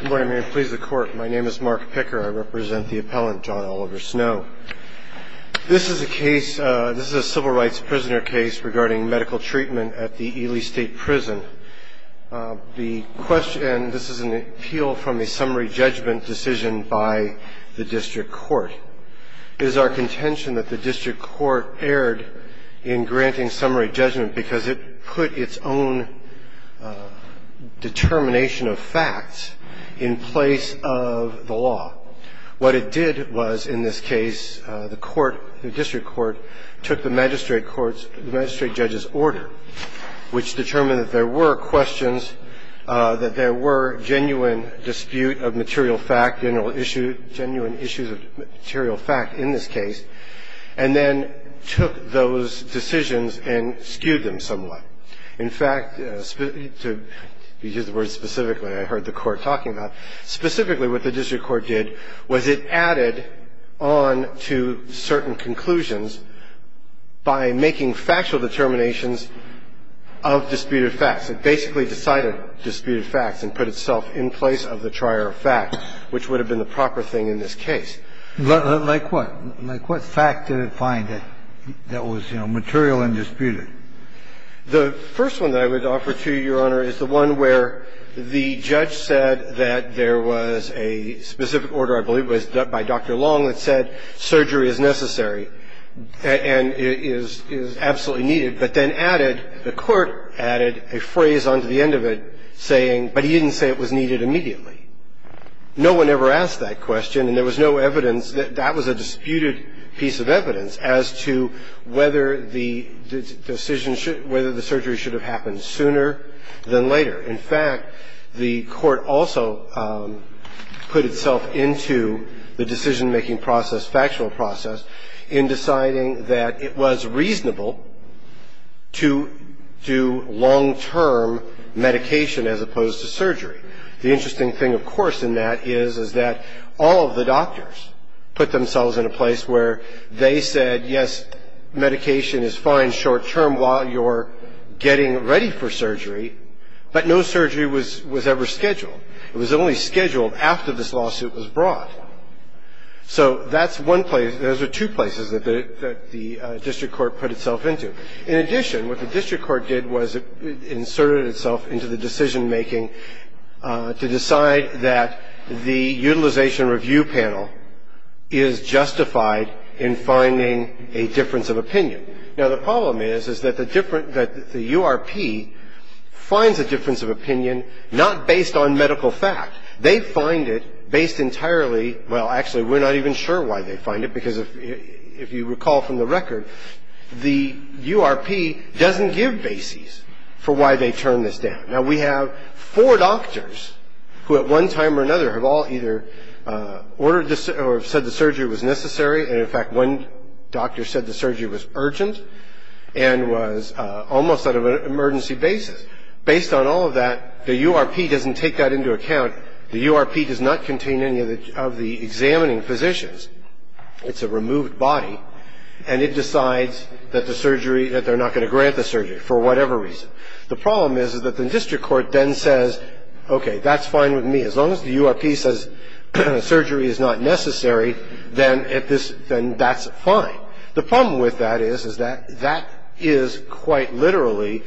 Good morning, I'm here to please the court. My name is Mark Picker. I represent the appellant, John Oliver Snow. This is a case, this is a civil rights prisoner case regarding medical treatment at the Ely State Prison. The question, this is an appeal from a summary judgment decision by the district court. It is our contention that the district court erred in granting summary judgment because it put its own determination of facts in place of the law. What it did was, in this case, the court, the district court, took the magistrate court's, the magistrate judge's order, which determined that there were questions, that there were genuine dispute of material fact, genuine issues of material fact in this case, and then took those decisions and skewed them somewhat. In fact, to use the word specifically, I heard the court talking about, specifically what the district court did was it added on to certain conclusions by making factual determinations of disputed facts. It basically decided disputed facts and put itself in place of the trier of facts, which would have been the proper thing in this case. Like what? Like what fact did it find that was, you know, material and disputed? The first one that I would offer to you, Your Honor, is the one where the judge said that there was a specific order, I believe it was by Dr. Long, that said surgery is necessary and is absolutely needed, but then added, the court added a phrase on to the end of it saying, but he didn't say it was needed immediately. No one ever asked that question, and there was no evidence that that was a disputed piece of evidence as to whether the decision should, whether the surgery should have happened sooner than later. In fact, the court also put itself into the decision-making process, the factual process, in deciding that it was reasonable to do long-term medication as opposed to surgery. The interesting thing, of course, in that is, is that all of the doctors put themselves in a place where they said, yes, medication is fine short-term while you're getting ready for surgery, but no surgery was ever scheduled. It was only scheduled after this lawsuit was brought. So that's one place. Those are two places that the district court put itself into. In addition, what the district court did was it inserted itself into the decision-making to decide that the utilization review panel is justified in finding a difference of opinion. Now, the problem is, is that the different, that the URP finds a difference of opinion not based on medical fact. They find it based entirely, well, actually, we're not even sure why they find it because if you recall from the record, the URP doesn't give bases for why they turn this down. Now, we have four doctors who at one time or another have all either ordered or said the surgery was necessary, and, in fact, one doctor said the surgery was urgent and was almost on an emergency basis. Based on all of that, the URP doesn't take that into account. The URP does not contain any of the examining physicians. It's a removed body, and it decides that the surgery, that they're not going to grant the surgery for whatever reason. The problem is, is that the district court then says, okay, that's fine with me. As long as the URP says surgery is not necessary, then that's fine. The problem with that is, is that that is quite literally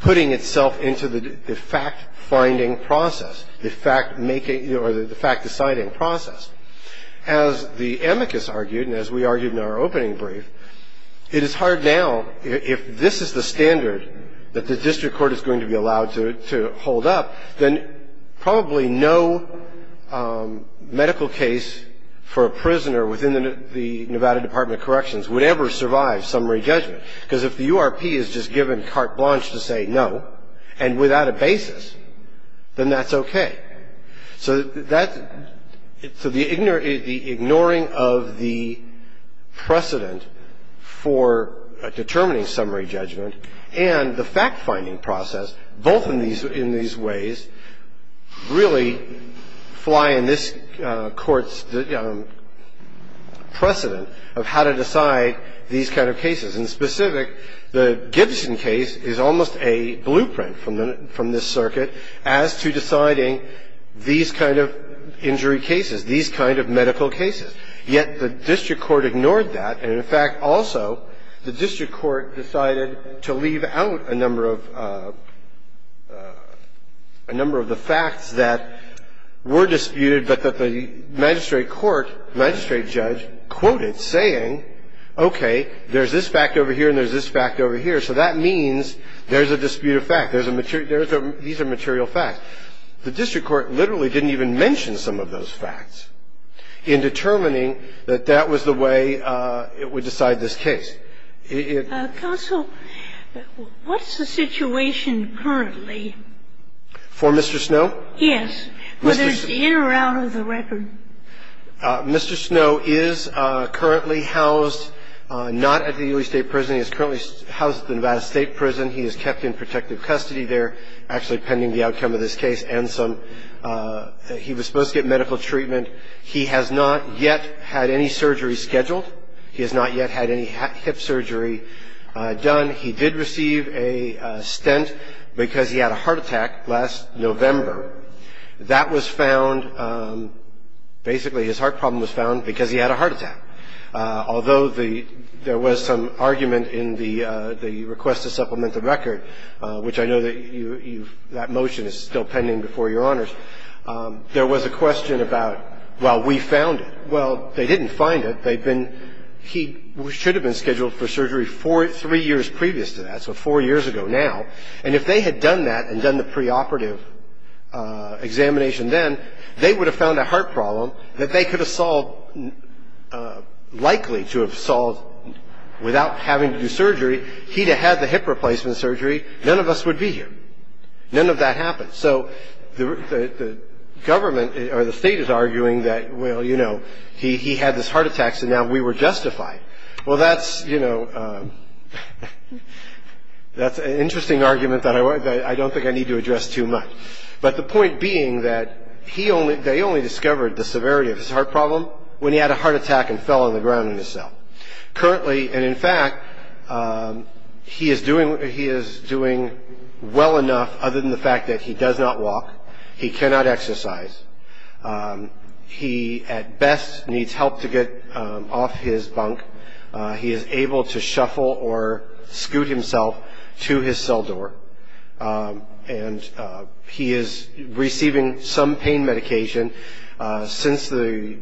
putting itself into the fact-finding process, the fact-making or the fact-deciding process. As the amicus argued and as we argued in our opening brief, it is hard now, if this is the standard that the district court is going to be allowed to hold up, then probably no medical case for a prisoner within the Nevada Department of Corrections would ever survive summary judgment, because if the URP is just given carte blanche to say no and without a basis, then that's okay. So that's the ignoring of the precedent for determining summary judgment and the fact-finding process, both in these ways really fly in this Court's precedent of how to decide these kind of cases. And specific, the Gibson case is almost a blueprint from this circuit as to deciding these kind of injury cases, these kind of medical cases. Yet the district court ignored that. And in fact, also, the district court decided to leave out a number of the facts that were disputed but that the magistrate court, magistrate judge, quoted saying, okay, there's this fact over here and there's this fact over here, so that means there's a dispute of fact. These are material facts. And the district court, as I said, ignored that. And yet the district court literally didn't even mention some of those facts in determining that that was the way it would decide this case. It -- Counsel, what's the situation currently? For Mr. Snow? Yes. Whether it's in or out of the record. Mr. Snow is currently housed not at the Ely State Prison. He is currently housed at the Nevada State Prison. He is kept in protective custody there, actually pending the outcome of this case. He was supposed to get medical treatment. He has not yet had any surgery scheduled. He has not yet had any hip surgery done. He did receive a stent because he had a heart attack last November. That was found, basically his heart problem was found because he had a heart attack. Although there was some argument in the request to supplement the record, which I know that you've, that motion is still pending before Your Honors, there was a question about, well, we found it. Well, they didn't find it. They've been, he should have been scheduled for surgery four, three years previous to that, so four years ago now. And if they had done that and done the preoperative examination then, they would have found a heart problem that they could have solved, likely to have solved without having to do surgery. He'd have had the hip replacement surgery. None of us would be here. None of that happened. So the government or the state is arguing that, well, you know, he had this heart attack, so now we were justified. Well, that's, you know, that's an interesting argument that I don't think I need to address too much. But the point being that he only, they only discovered the severity of his heart problem when he had a heart attack and fell on the ground in his cell. Currently, and in fact, he is doing well enough other than the fact that he does not walk. He cannot exercise. He, at best, needs help to get off his bunk. He is able to shuffle or scoot himself to his cell door. And he is receiving some pain medication. Since the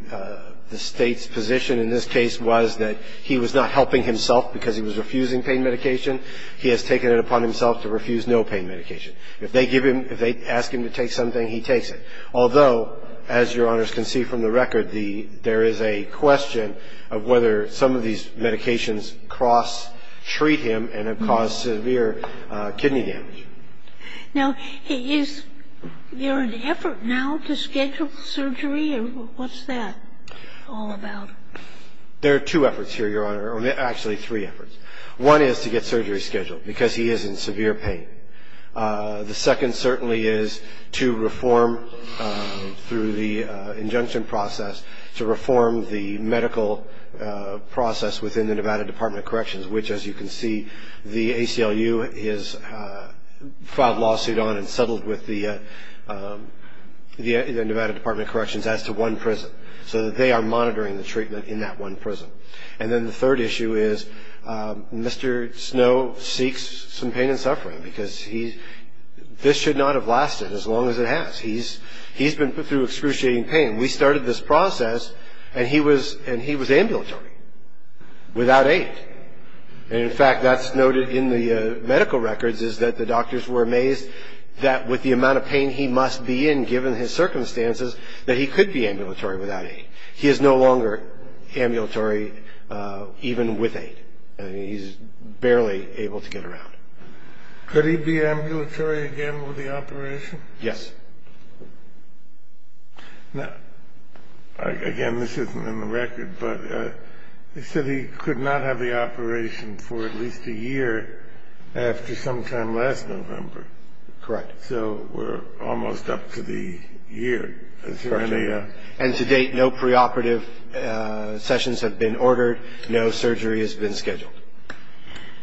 state's position in this case was that he was not helping himself because he was refusing pain medication, he has taken it upon himself to refuse no pain medication. If they give him, if they ask him to take something, he takes it. Although, as Your Honors can see from the record, there is a question of whether some of these medications cross-treat him and have caused severe kidney damage. Now, is there an effort now to schedule surgery, or what's that all about? There are two efforts here, Your Honor, or actually three efforts. One is to get surgery scheduled because he is in severe pain. The second certainly is to reform through the injunction process, to reform the medical process within the Nevada Department of Corrections, which, as you can see, the ACLU has filed a lawsuit on and settled with the Nevada Department of Corrections as to one prison, so that they are monitoring the treatment in that one prison. And then the third issue is Mr. Snow seeks some pain and suffering because this should not have lasted as long as it has. He's been put through excruciating pain. We started this process, and he was ambulatory without aid. And, in fact, that's noted in the medical records is that the doctors were amazed that with the amount of pain he must be in given his circumstances, that he could be ambulatory without aid. He is no longer ambulatory even with aid. I mean, he's barely able to get around. Could he be ambulatory again with the operation? Yes. Now, again, this isn't in the record, but they said he could not have the operation for at least a year after sometime last November. Correct. So we're almost up to the year. And to date, no preoperative sessions have been ordered. No surgery has been scheduled.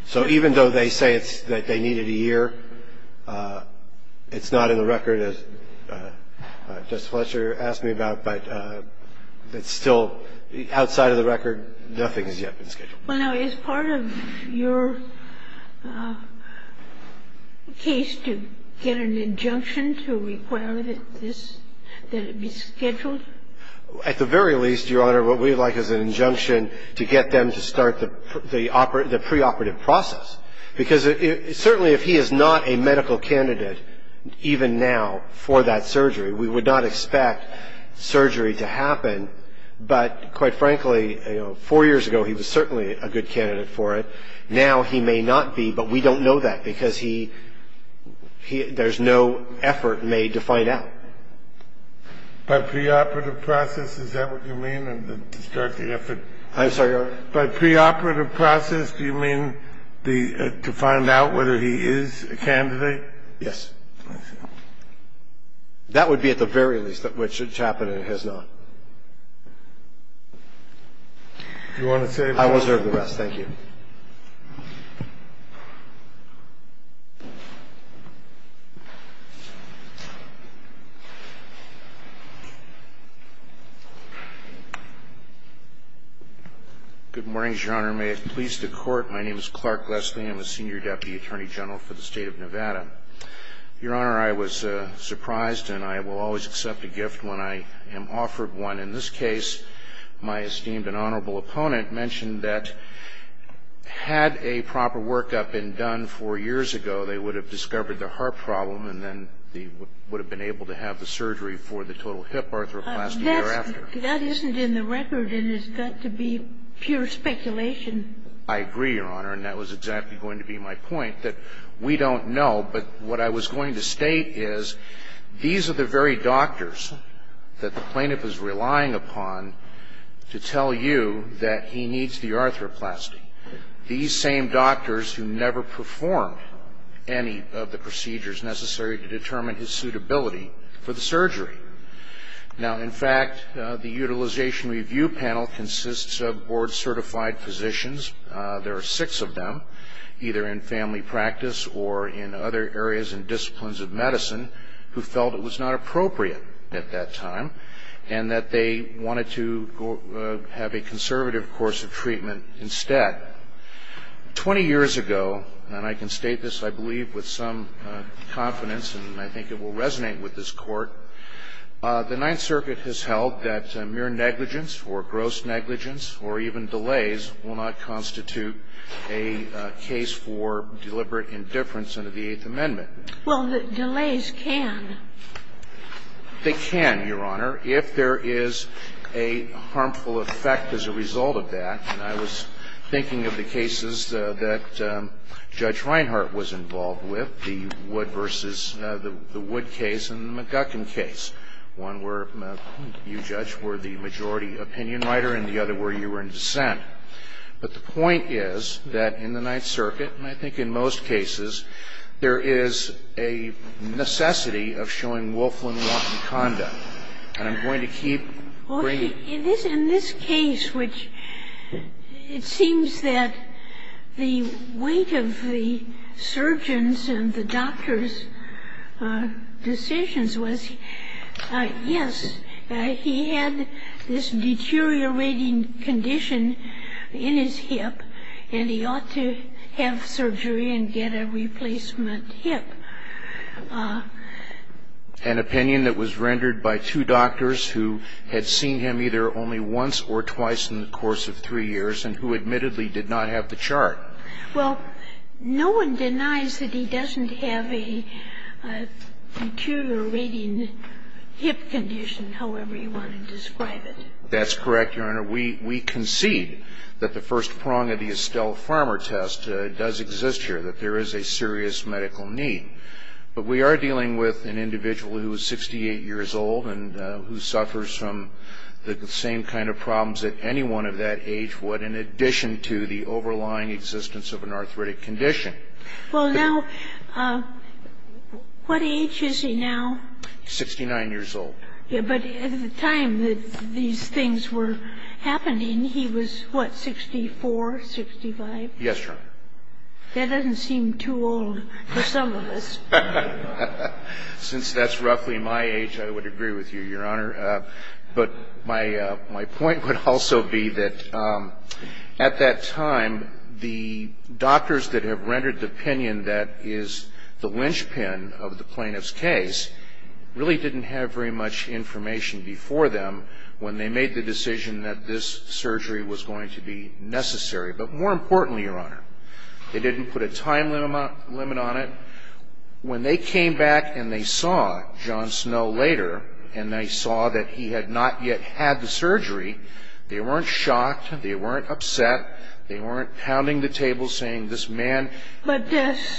So even though they say that they need it a year, it's not in the record, as Justice Fletcher asked me about, but it's still outside of the record. Nothing has yet been scheduled. Well, now, is part of your case to get an injunction to require that it be scheduled? At the very least, Your Honor, what we'd like is an injunction to get them to start the preoperative process. Because certainly if he is not a medical candidate, even now, for that surgery, we would not expect surgery to happen. But, quite frankly, four years ago, he was certainly a good candidate for it. Now he may not be, but we don't know that because there's no effort made to find out. By preoperative process, is that what you mean? I'm sorry, Your Honor? By preoperative process, do you mean to find out whether he is a candidate? Yes. That would be at the very least, which it's happened and it has not. Do you want to say anything else? I will serve the rest. Thank you. Good morning, Your Honor. May it please the Court, my name is Clark Leslie. I'm a Senior Deputy Attorney General for the State of Nevada. Your Honor, I was surprised, and I will always accept a gift when I am offered one. In this case, my esteemed and honorable opponent mentioned that had a proper workup been done four years ago, they would have discovered the heart problem and then would have been able to have the surgery for the total hip arthroplasty thereafter. That isn't in the record, and it's got to be pure speculation. I agree, Your Honor. And that was exactly going to be my point, that we don't know. But what I was going to state is these are the very doctors that the plaintiff is relying upon to tell you that he needs the arthroplasty. These same doctors who never performed any of the procedures necessary to determine his suitability for the surgery. Now, in fact, the Utilization Review Panel consists of board-certified physicians. There are six of them, either in family practice or in other areas and disciplines of medicine, who felt it was not appropriate at that time and that they wanted to have a conservative course of treatment instead. Twenty years ago, and I can state this, I believe, with some confidence, and I think it will resonate with this Court, the Ninth Circuit has held that mere negligence for gross negligence or even delays will not constitute a case for deliberate indifference under the Eighth Amendment. Well, delays can. They can, Your Honor, if there is a harmful effect as a result of that. And I was thinking of the cases that Judge Reinhart was involved with, the Wood versus the Wood case and the McGuckin case, one where you, Judge, were the majority opinion writer and the other where you were in dissent. But the point is that in the Ninth Circuit, and I think in most cases, there is a necessity of showing Wolfland-Walton conduct. And I'm going to keep bringing it up. In this case, which it seems that the weight of the surgeons and the doctors' decisions was, yes, he had this deteriorating condition in his hip, and he ought to have surgery and get a replacement hip. And I'm going to keep bringing it up. was, yes, he had this deteriorating condition in his hip, and he ought to have surgery and get a replacement hip. An opinion that was rendered by two doctors who had seen him either only once or twice in the course of three years and who admittedly did not have the chart. Well, no one denies that he doesn't have a deteriorating hip condition, however you want to describe it. That's correct, Your Honor. We concede that the first prong of the Estelle Farmer test does exist here, that there is a serious medical need. But we are dealing with an individual who is 68 years old and who suffers from the same kind of problems that anyone of that age would in addition to the overlying existence of an arthritic condition. Well, now, what age is he now? Sixty-nine years old. But at the time that these things were happening, he was, what, 64, 65? Yes, Your Honor. That doesn't seem too old for some of us. Since that's roughly my age, I would agree with you, Your Honor. But my point would also be that at that time, the doctors that have rendered the opinion that is the linchpin of the plaintiff's case really didn't have very much information before them when they made the decision that this surgery was going to be necessary. But more importantly, Your Honor, they didn't put a time limit on it. When they came back and they saw John Snow later and they saw that he had not yet had the surgery, they weren't shocked. They weren't upset. They weren't pounding the table saying, this man. But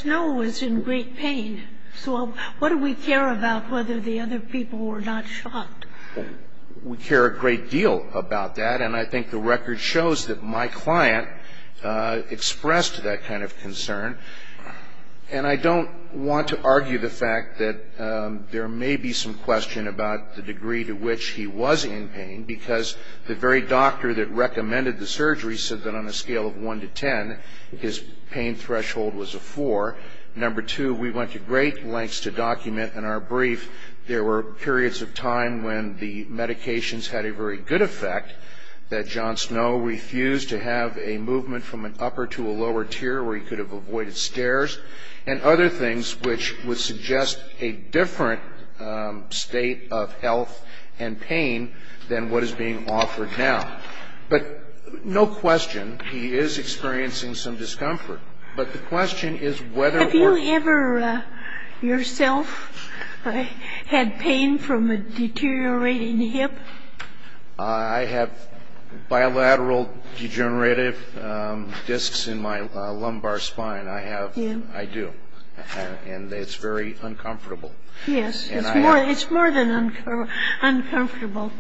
Snow was in great pain. So what do we care about whether the other people were not shocked? We care a great deal about that. And I think the record shows that my client expressed that kind of concern. And I don't want to argue the fact that there may be some question about the degree to which he was in pain because the very doctor that recommended the surgery said that on a scale of 1 to 10, his pain threshold was a 4. Number two, we went to great lengths to document in our brief there were periods of time when the medications had a very good effect that John Snow refused to have a movement from an upper to a lower tier where he could have avoided scares and other things which would suggest a different state of health and pain than what is being offered now. But no question, he is experiencing some discomfort. But the question is whether or not... Have you ever yourself had pain from a deteriorating hip? I have bilateral degenerative discs in my lumbar spine. I have. I do. And it's very uncomfortable. Yes. It's more than uncomfortable.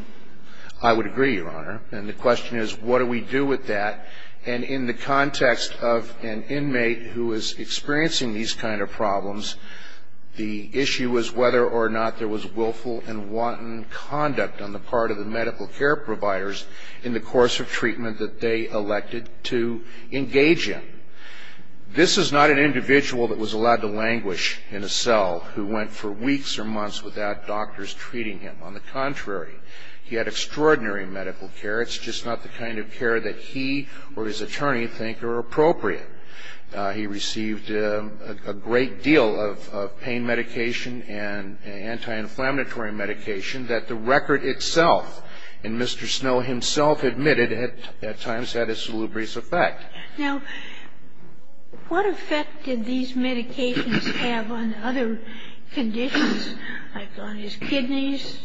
I would agree, Your Honor. And the question is what do we do with that? And in the context of an inmate who is experiencing these kind of problems, the issue was whether or not there was willful and wanton conduct on the part of the medical care providers in the course of treatment that they elected to engage in. This is not an individual that was allowed to languish in a cell who went for weeks or months without doctors treating him. On the contrary, he had extraordinary medical care. It's just not the kind of care that he or his attorney think are appropriate. He received a great deal of pain medication and anti-inflammatory medication that the record itself, and Mr. Snow himself admitted at times had a salubrious effect. Now, what effect did these medications have on other conditions like on his kidneys?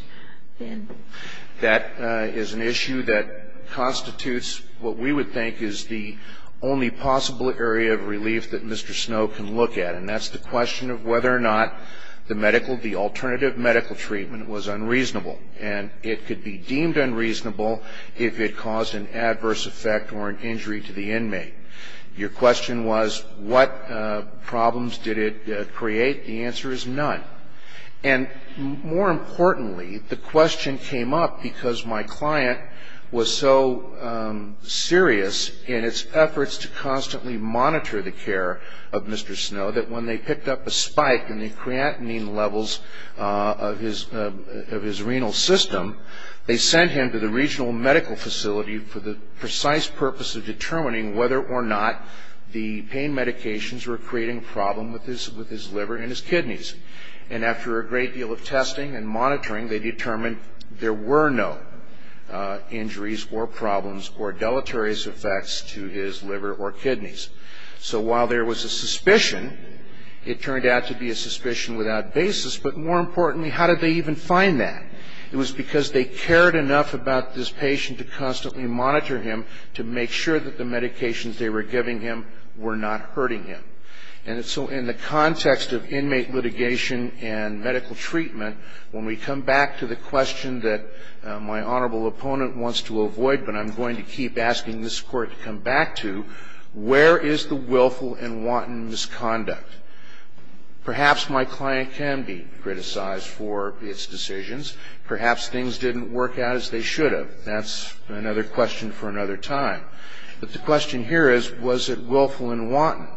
That is an issue that constitutes what we would think is the only possible area of relief that Mr. Snow can look at. And that's the question of whether or not the medical, the alternative medical treatment was unreasonable. And it could be deemed unreasonable if it caused an adverse effect or an injury to the inmate. Your question was what problems did it create? The answer is none. And more importantly, the question came up because my client was so serious in its efforts to constantly monitor the care of Mr. Snow that when they picked up a spike in the creatinine levels of his renal system, they sent him to the regional medical facility for the precise purpose of determining whether or not the pain medications were creating a problem with his liver and his kidneys. And after a great deal of testing and monitoring, they determined there were no injuries or problems or deleterious effects to his liver or kidneys. So while there was a suspicion, it turned out to be a suspicion without basis. But more importantly, how did they even find that? It was because they cared enough about this patient to constantly monitor him to make sure that the medications they were giving him were not hurting him. And so in the context of inmate litigation and medical treatment, when we come back to the question that my honorable opponent wants to avoid, but I'm going to keep asking this Court to come back to, where is the willful and wanton misconduct? Perhaps my client can be criticized for its decisions. Perhaps things didn't work out as they should have. But that's another question for another time. But the question here is, was it willful and wanton?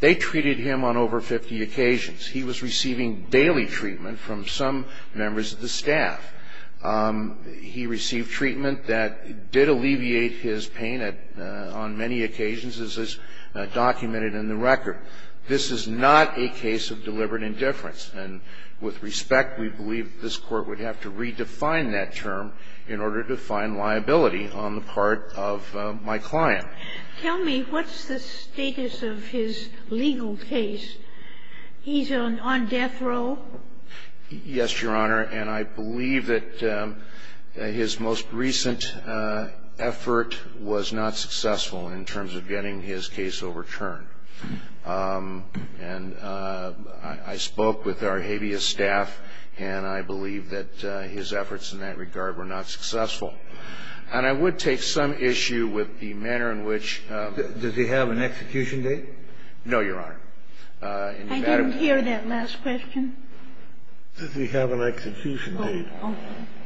They treated him on over 50 occasions. He was receiving daily treatment from some members of the staff. He received treatment that did alleviate his pain on many occasions, as is documented in the record. This is not a case of deliberate indifference. And with respect, we believe that this Court would have to redefine that term in order to find liability on the part of my client. Tell me, what's the status of his legal case? He's on death row? Yes, Your Honor. And I believe that his most recent effort was not successful in terms of getting his case overturned. And I spoke with our habeas staff, and I believe that his efforts in that regard were not successful. And I would take some issue with the manner in which the ---- Does he have an execution date? No, Your Honor. I didn't hear that last question. Does he have an execution date?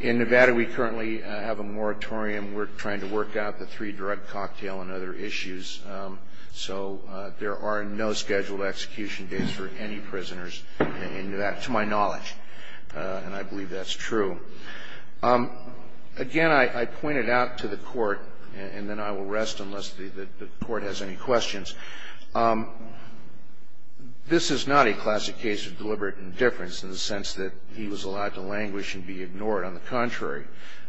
In Nevada, we currently have a moratorium. We're trying to work out the three drug cocktail and other issues. So there are no scheduled execution dates for any prisoners in Nevada, to my knowledge. And I believe that's true. Again, I pointed out to the Court, and then I will rest unless the Court has any questions. This is not a classic case of deliberate indifference in the sense that he was allowed to languish and be ignored. On the contrary,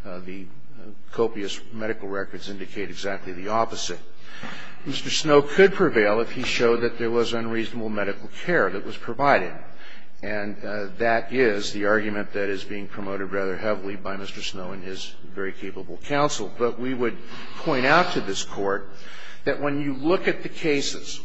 the copious medical records indicate exactly the opposite. Mr. Snow could prevail if he showed that there was unreasonable medical care that was provided. And that is the argument that is being promoted rather heavily by Mr. Snow in his very capable counsel. But we would point out to this Court that when you look at the cases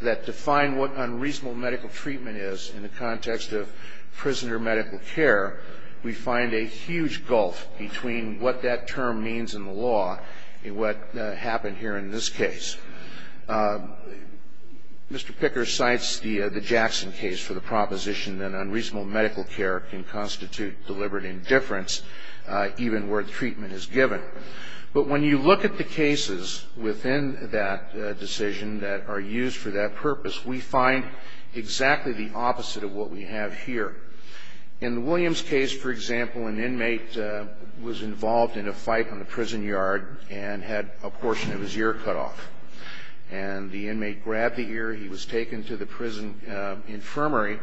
that define what unreasonable medical treatment is in the context of prisoner medical care, we find a huge gulf between what that term means in the law and what happened here in this case. Mr. Picker cites the Jackson case for the proposition that unreasonable medical care can constitute deliberate indifference, even where the treatment is given. But when you look at the cases within that decision that are used for that purpose, we find exactly the opposite of what we have here. In the Williams case, for example, an inmate was involved in a fight on the prison yard and had a portion of his ear cut off. And the inmate grabbed the ear. He was taken to the prison infirmary.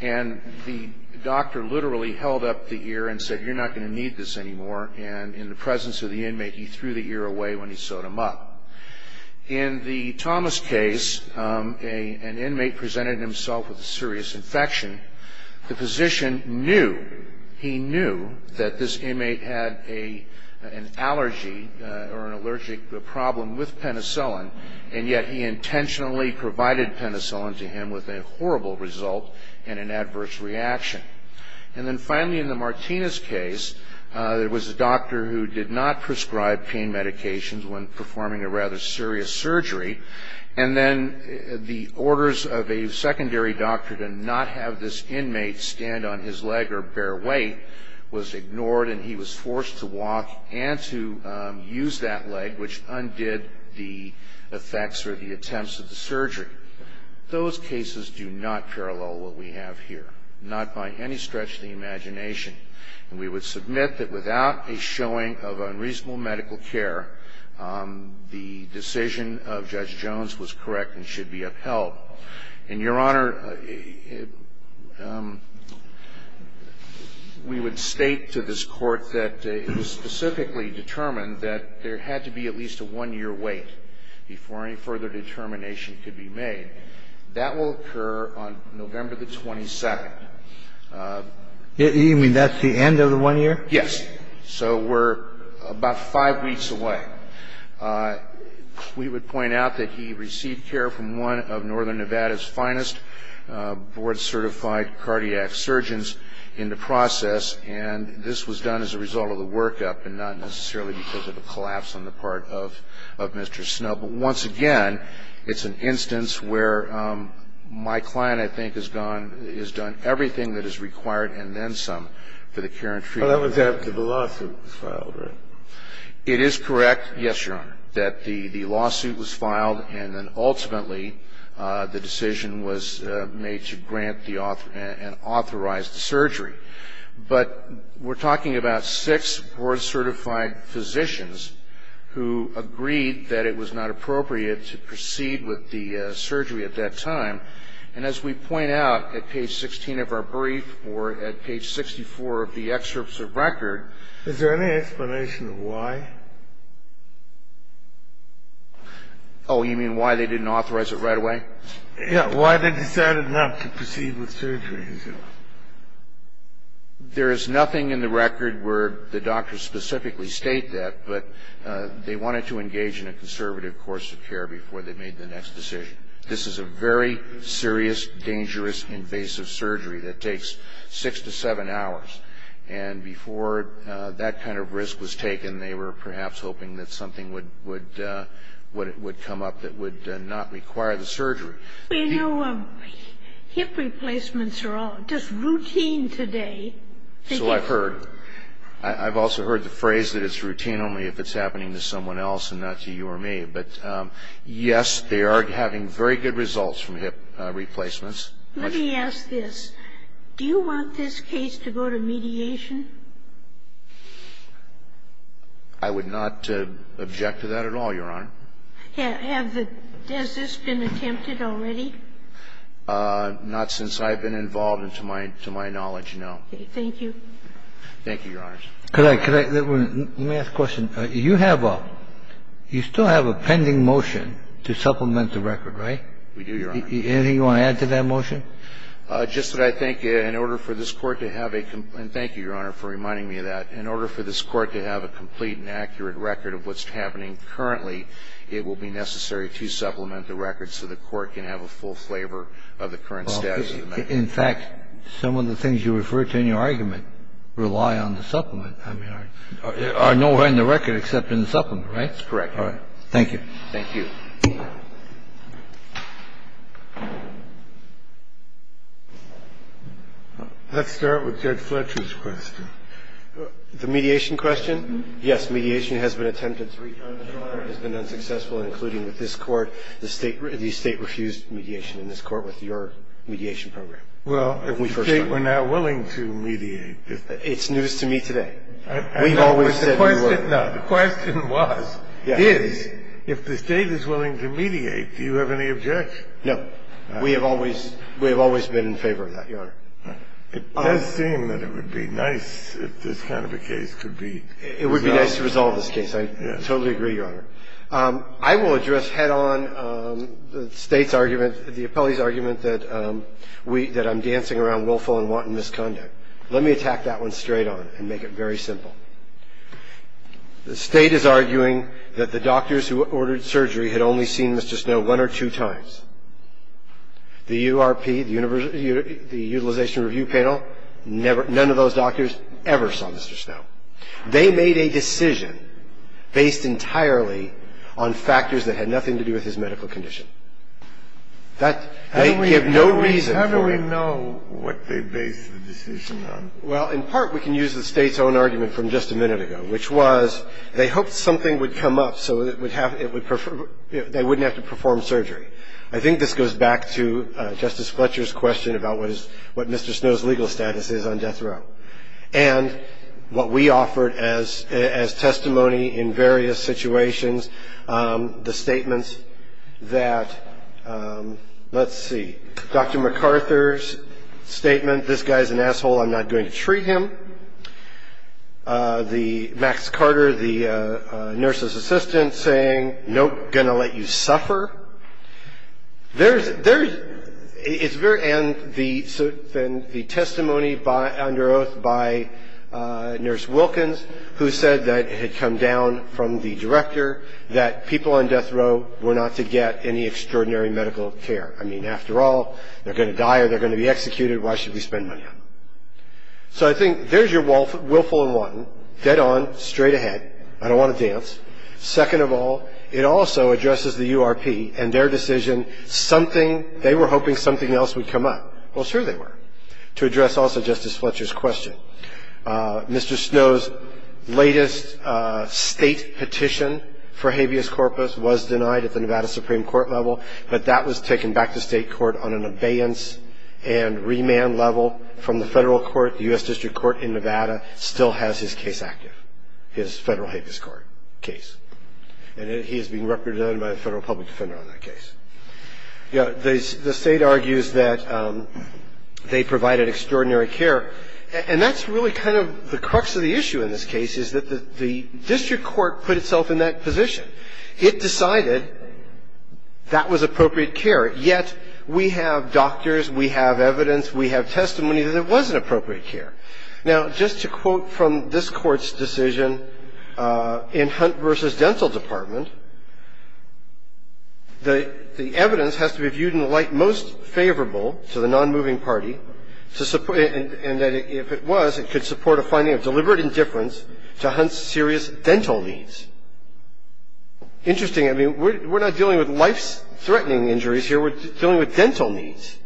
And the doctor literally held up the ear and said, You're not going to need this anymore. And in the presence of the inmate, he threw the ear away when he sewed him up. In the Thomas case, an inmate presented himself with a serious infection. The physician knew. He knew that this inmate had an allergy or an allergic problem with penicillin. And yet he intentionally provided penicillin to him with a horrible result and an adverse reaction. And then finally, in the Martinez case, there was a doctor who did not prescribe pain medications when performing a rather serious surgery. And then the orders of a secondary doctor to not have this inmate stand on his leg or bear weight was ignored. And he was forced to walk and to use that leg, which undid the effects or the attempts of the surgery. Those cases do not parallel what we have here, not by any stretch of the imagination. And we would submit that without a showing of unreasonable medical care, the decision of Judge Jones was correct and should be upheld. And, Your Honor, we would state to this Court that it was specifically determined that there had to be at least a one-year wait before any further determination could be made. That will occur on November the 22nd. You mean that's the end of the one year? Yes. So we're about five weeks away. We would point out that he received care from one of Northern Nevada's finest board-certified cardiac surgeons in the process, and this was done as a result of the workup and not necessarily because of a collapse on the part of Mr. Snow. But once again, it's an instance where my client, I think, has done everything that is required and then some for the care and treatment. Well, that was after the lawsuit was filed, right? It is correct, yes, Your Honor, that the lawsuit was filed and then ultimately the decision was made to grant and authorize the surgery. But we're talking about six board-certified physicians who agreed that it was not appropriate to proceed with the surgery at that time. And as we point out at page 16 of our brief or at page 64 of the excerpts of record Is there any explanation of why? Oh, you mean why they didn't authorize it right away? Yes, why they decided not to proceed with surgery. There is nothing in the record where the doctors specifically state that, but they wanted to engage in a conservative course of care before they made the next decision. This is a very serious, dangerous, invasive surgery that takes six to seven hours. And before that kind of risk was taken, they were perhaps hoping that something would come up that would not require the surgery. Well, you know, hip replacements are all just routine today. So I've heard. I've also heard the phrase that it's routine only if it's happening to someone else and not to you or me. But yes, they are having very good results from hip replacements. Let me ask this. Do you want this case to go to mediation? I would not object to that at all, Your Honor. Has this been attempted already? Not since I've been involved and to my knowledge, no. Thank you. Thank you, Your Honors. Could I, could I, let me ask a question. You have a, you still have a pending motion to supplement the record, right? We do, Your Honor. Anything you want to add to that motion? Just that I think in order for this Court to have a, and thank you, Your Honor, for reminding me of that. In order for this Court to have a complete and accurate record of what's happening currently, it will be necessary to supplement the record so the Court can have a full flavor of the current status of the matter. In fact, some of the things you refer to in your argument rely on the supplement. I mean, are nowhere in the record except in the supplement, right? That's correct, Your Honor. Thank you. Thank you. Let's start with Judge Fletcher's question. The mediation question? Yes. Mediation has been attempted three times, Your Honor. It has been unsuccessful, including with this Court. The State refused mediation in this Court with your mediation program. Well, if the State were not willing to mediate. It's news to me today. We've always said we were. No, the question was, is, if the State is willing to mediate, do you have any objection? No. We have always, we have always been in favor of that, Your Honor. It does seem that it would be nice if this kind of a case could be resolved. It would be nice to resolve this case. I totally agree, Your Honor. I will address head-on the State's argument, the appellee's argument, that I'm dancing around willful and wanton misconduct. Let me attack that one straight on and make it very simple. The State is arguing that the doctors who ordered surgery had only seen Mr. Snow one or two times. The URP, the Utilization Review Panel, none of those doctors ever saw Mr. Snow. They made a decision based entirely on factors that had nothing to do with his medical condition. That, they give no reason for it. How do we know what they based the decision on? Well, in part, we can use the State's own argument from just a minute ago, which was they hoped something would come up so it would have, it would, they wouldn't have to perform surgery. I think this goes back to Justice Fletcher's question about what is, what Mr. Snow's legal status is on death row. And what we offered as testimony in various situations, the statements that, let's see, Dr. MacArthur's statement, this guy's an asshole, I'm not going to treat him. The, Max Carter, the nurse's assistant, saying, nope, going to let you suffer. There's, there's, it's very, and the, and the testimony by, under oath by Nurse Wilkins, who said that it had come down from the director that people on death row were not to get any extraordinary medical care. I mean, after all, they're going to die or they're going to be executed, why should we spend money on them? So I think there's your willful and wanton, dead on, straight ahead, I don't want to dance. Second of all, it also addresses the URP and their decision, something, they were hoping something else would come up. Well, sure they were, to address also Justice Fletcher's question. Mr. Snow's latest state petition for habeas corpus was denied at the Nevada Supreme Court level, but that was taken back to state court on an abeyance and remand level from the federal court, the U.S. District Court in Nevada still has his case active, his federal habeas court case, and he is being represented by a federal public defender on that case. The state argues that they provided extraordinary care, and that's really kind of the crux of the issue in this case, is that the district court put itself in that position. It decided that was appropriate care, yet we have doctors, we have evidence, we have testimony that it wasn't appropriate care. Now, just to quote from this Court's decision in Hunt v. Dental Department, the evidence has to be viewed in the light most favorable to the nonmoving party, and that if it was, it could support a finding of deliberate indifference to Hunt's serious dental needs. Interesting, I mean, we're not dealing with life-threatening injuries here, we're dealing with dental needs.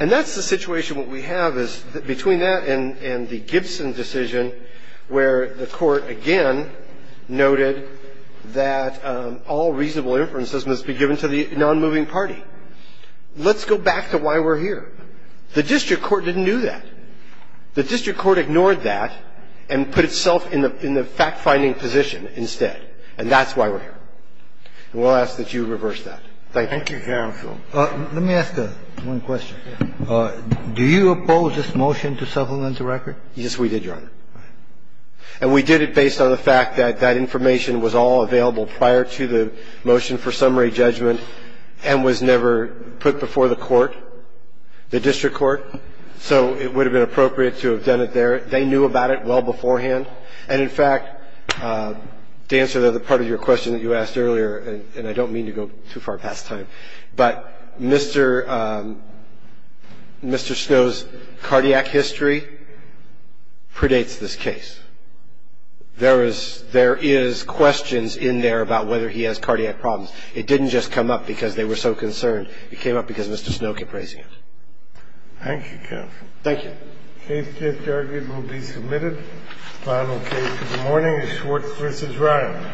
And that's the situation what we have is between that and the Gibson decision, where the court again noted that all reasonable inferences must be given to the nonmoving party. Let's go back to why we're here. The district court didn't do that. The district court ignored that and put itself in the fact-finding position instead, and that's why we're here. And we'll ask that you reverse that. Thank you. Thank you, counsel. Let me ask one question. Do you oppose this motion to supplement the record? Yes, we did, Your Honor. And we did it based on the fact that that information was all available prior to the motion for summary judgment and was never put before the court, the district court, so it would have been appropriate to have done it there. They knew about it well beforehand. And, in fact, to answer the part of your question that you asked earlier, and I don't mean to go too far past time, but Mr. Snow's cardiac history predates this case. There is questions in there about whether he has cardiac problems. It didn't just come up because they were so concerned. It came up because Mr. Snow kept raising it. Thank you, counsel. Thank you. The case to be argued will be submitted. The final case of the morning is Schwartz v. Ryan. Thank you.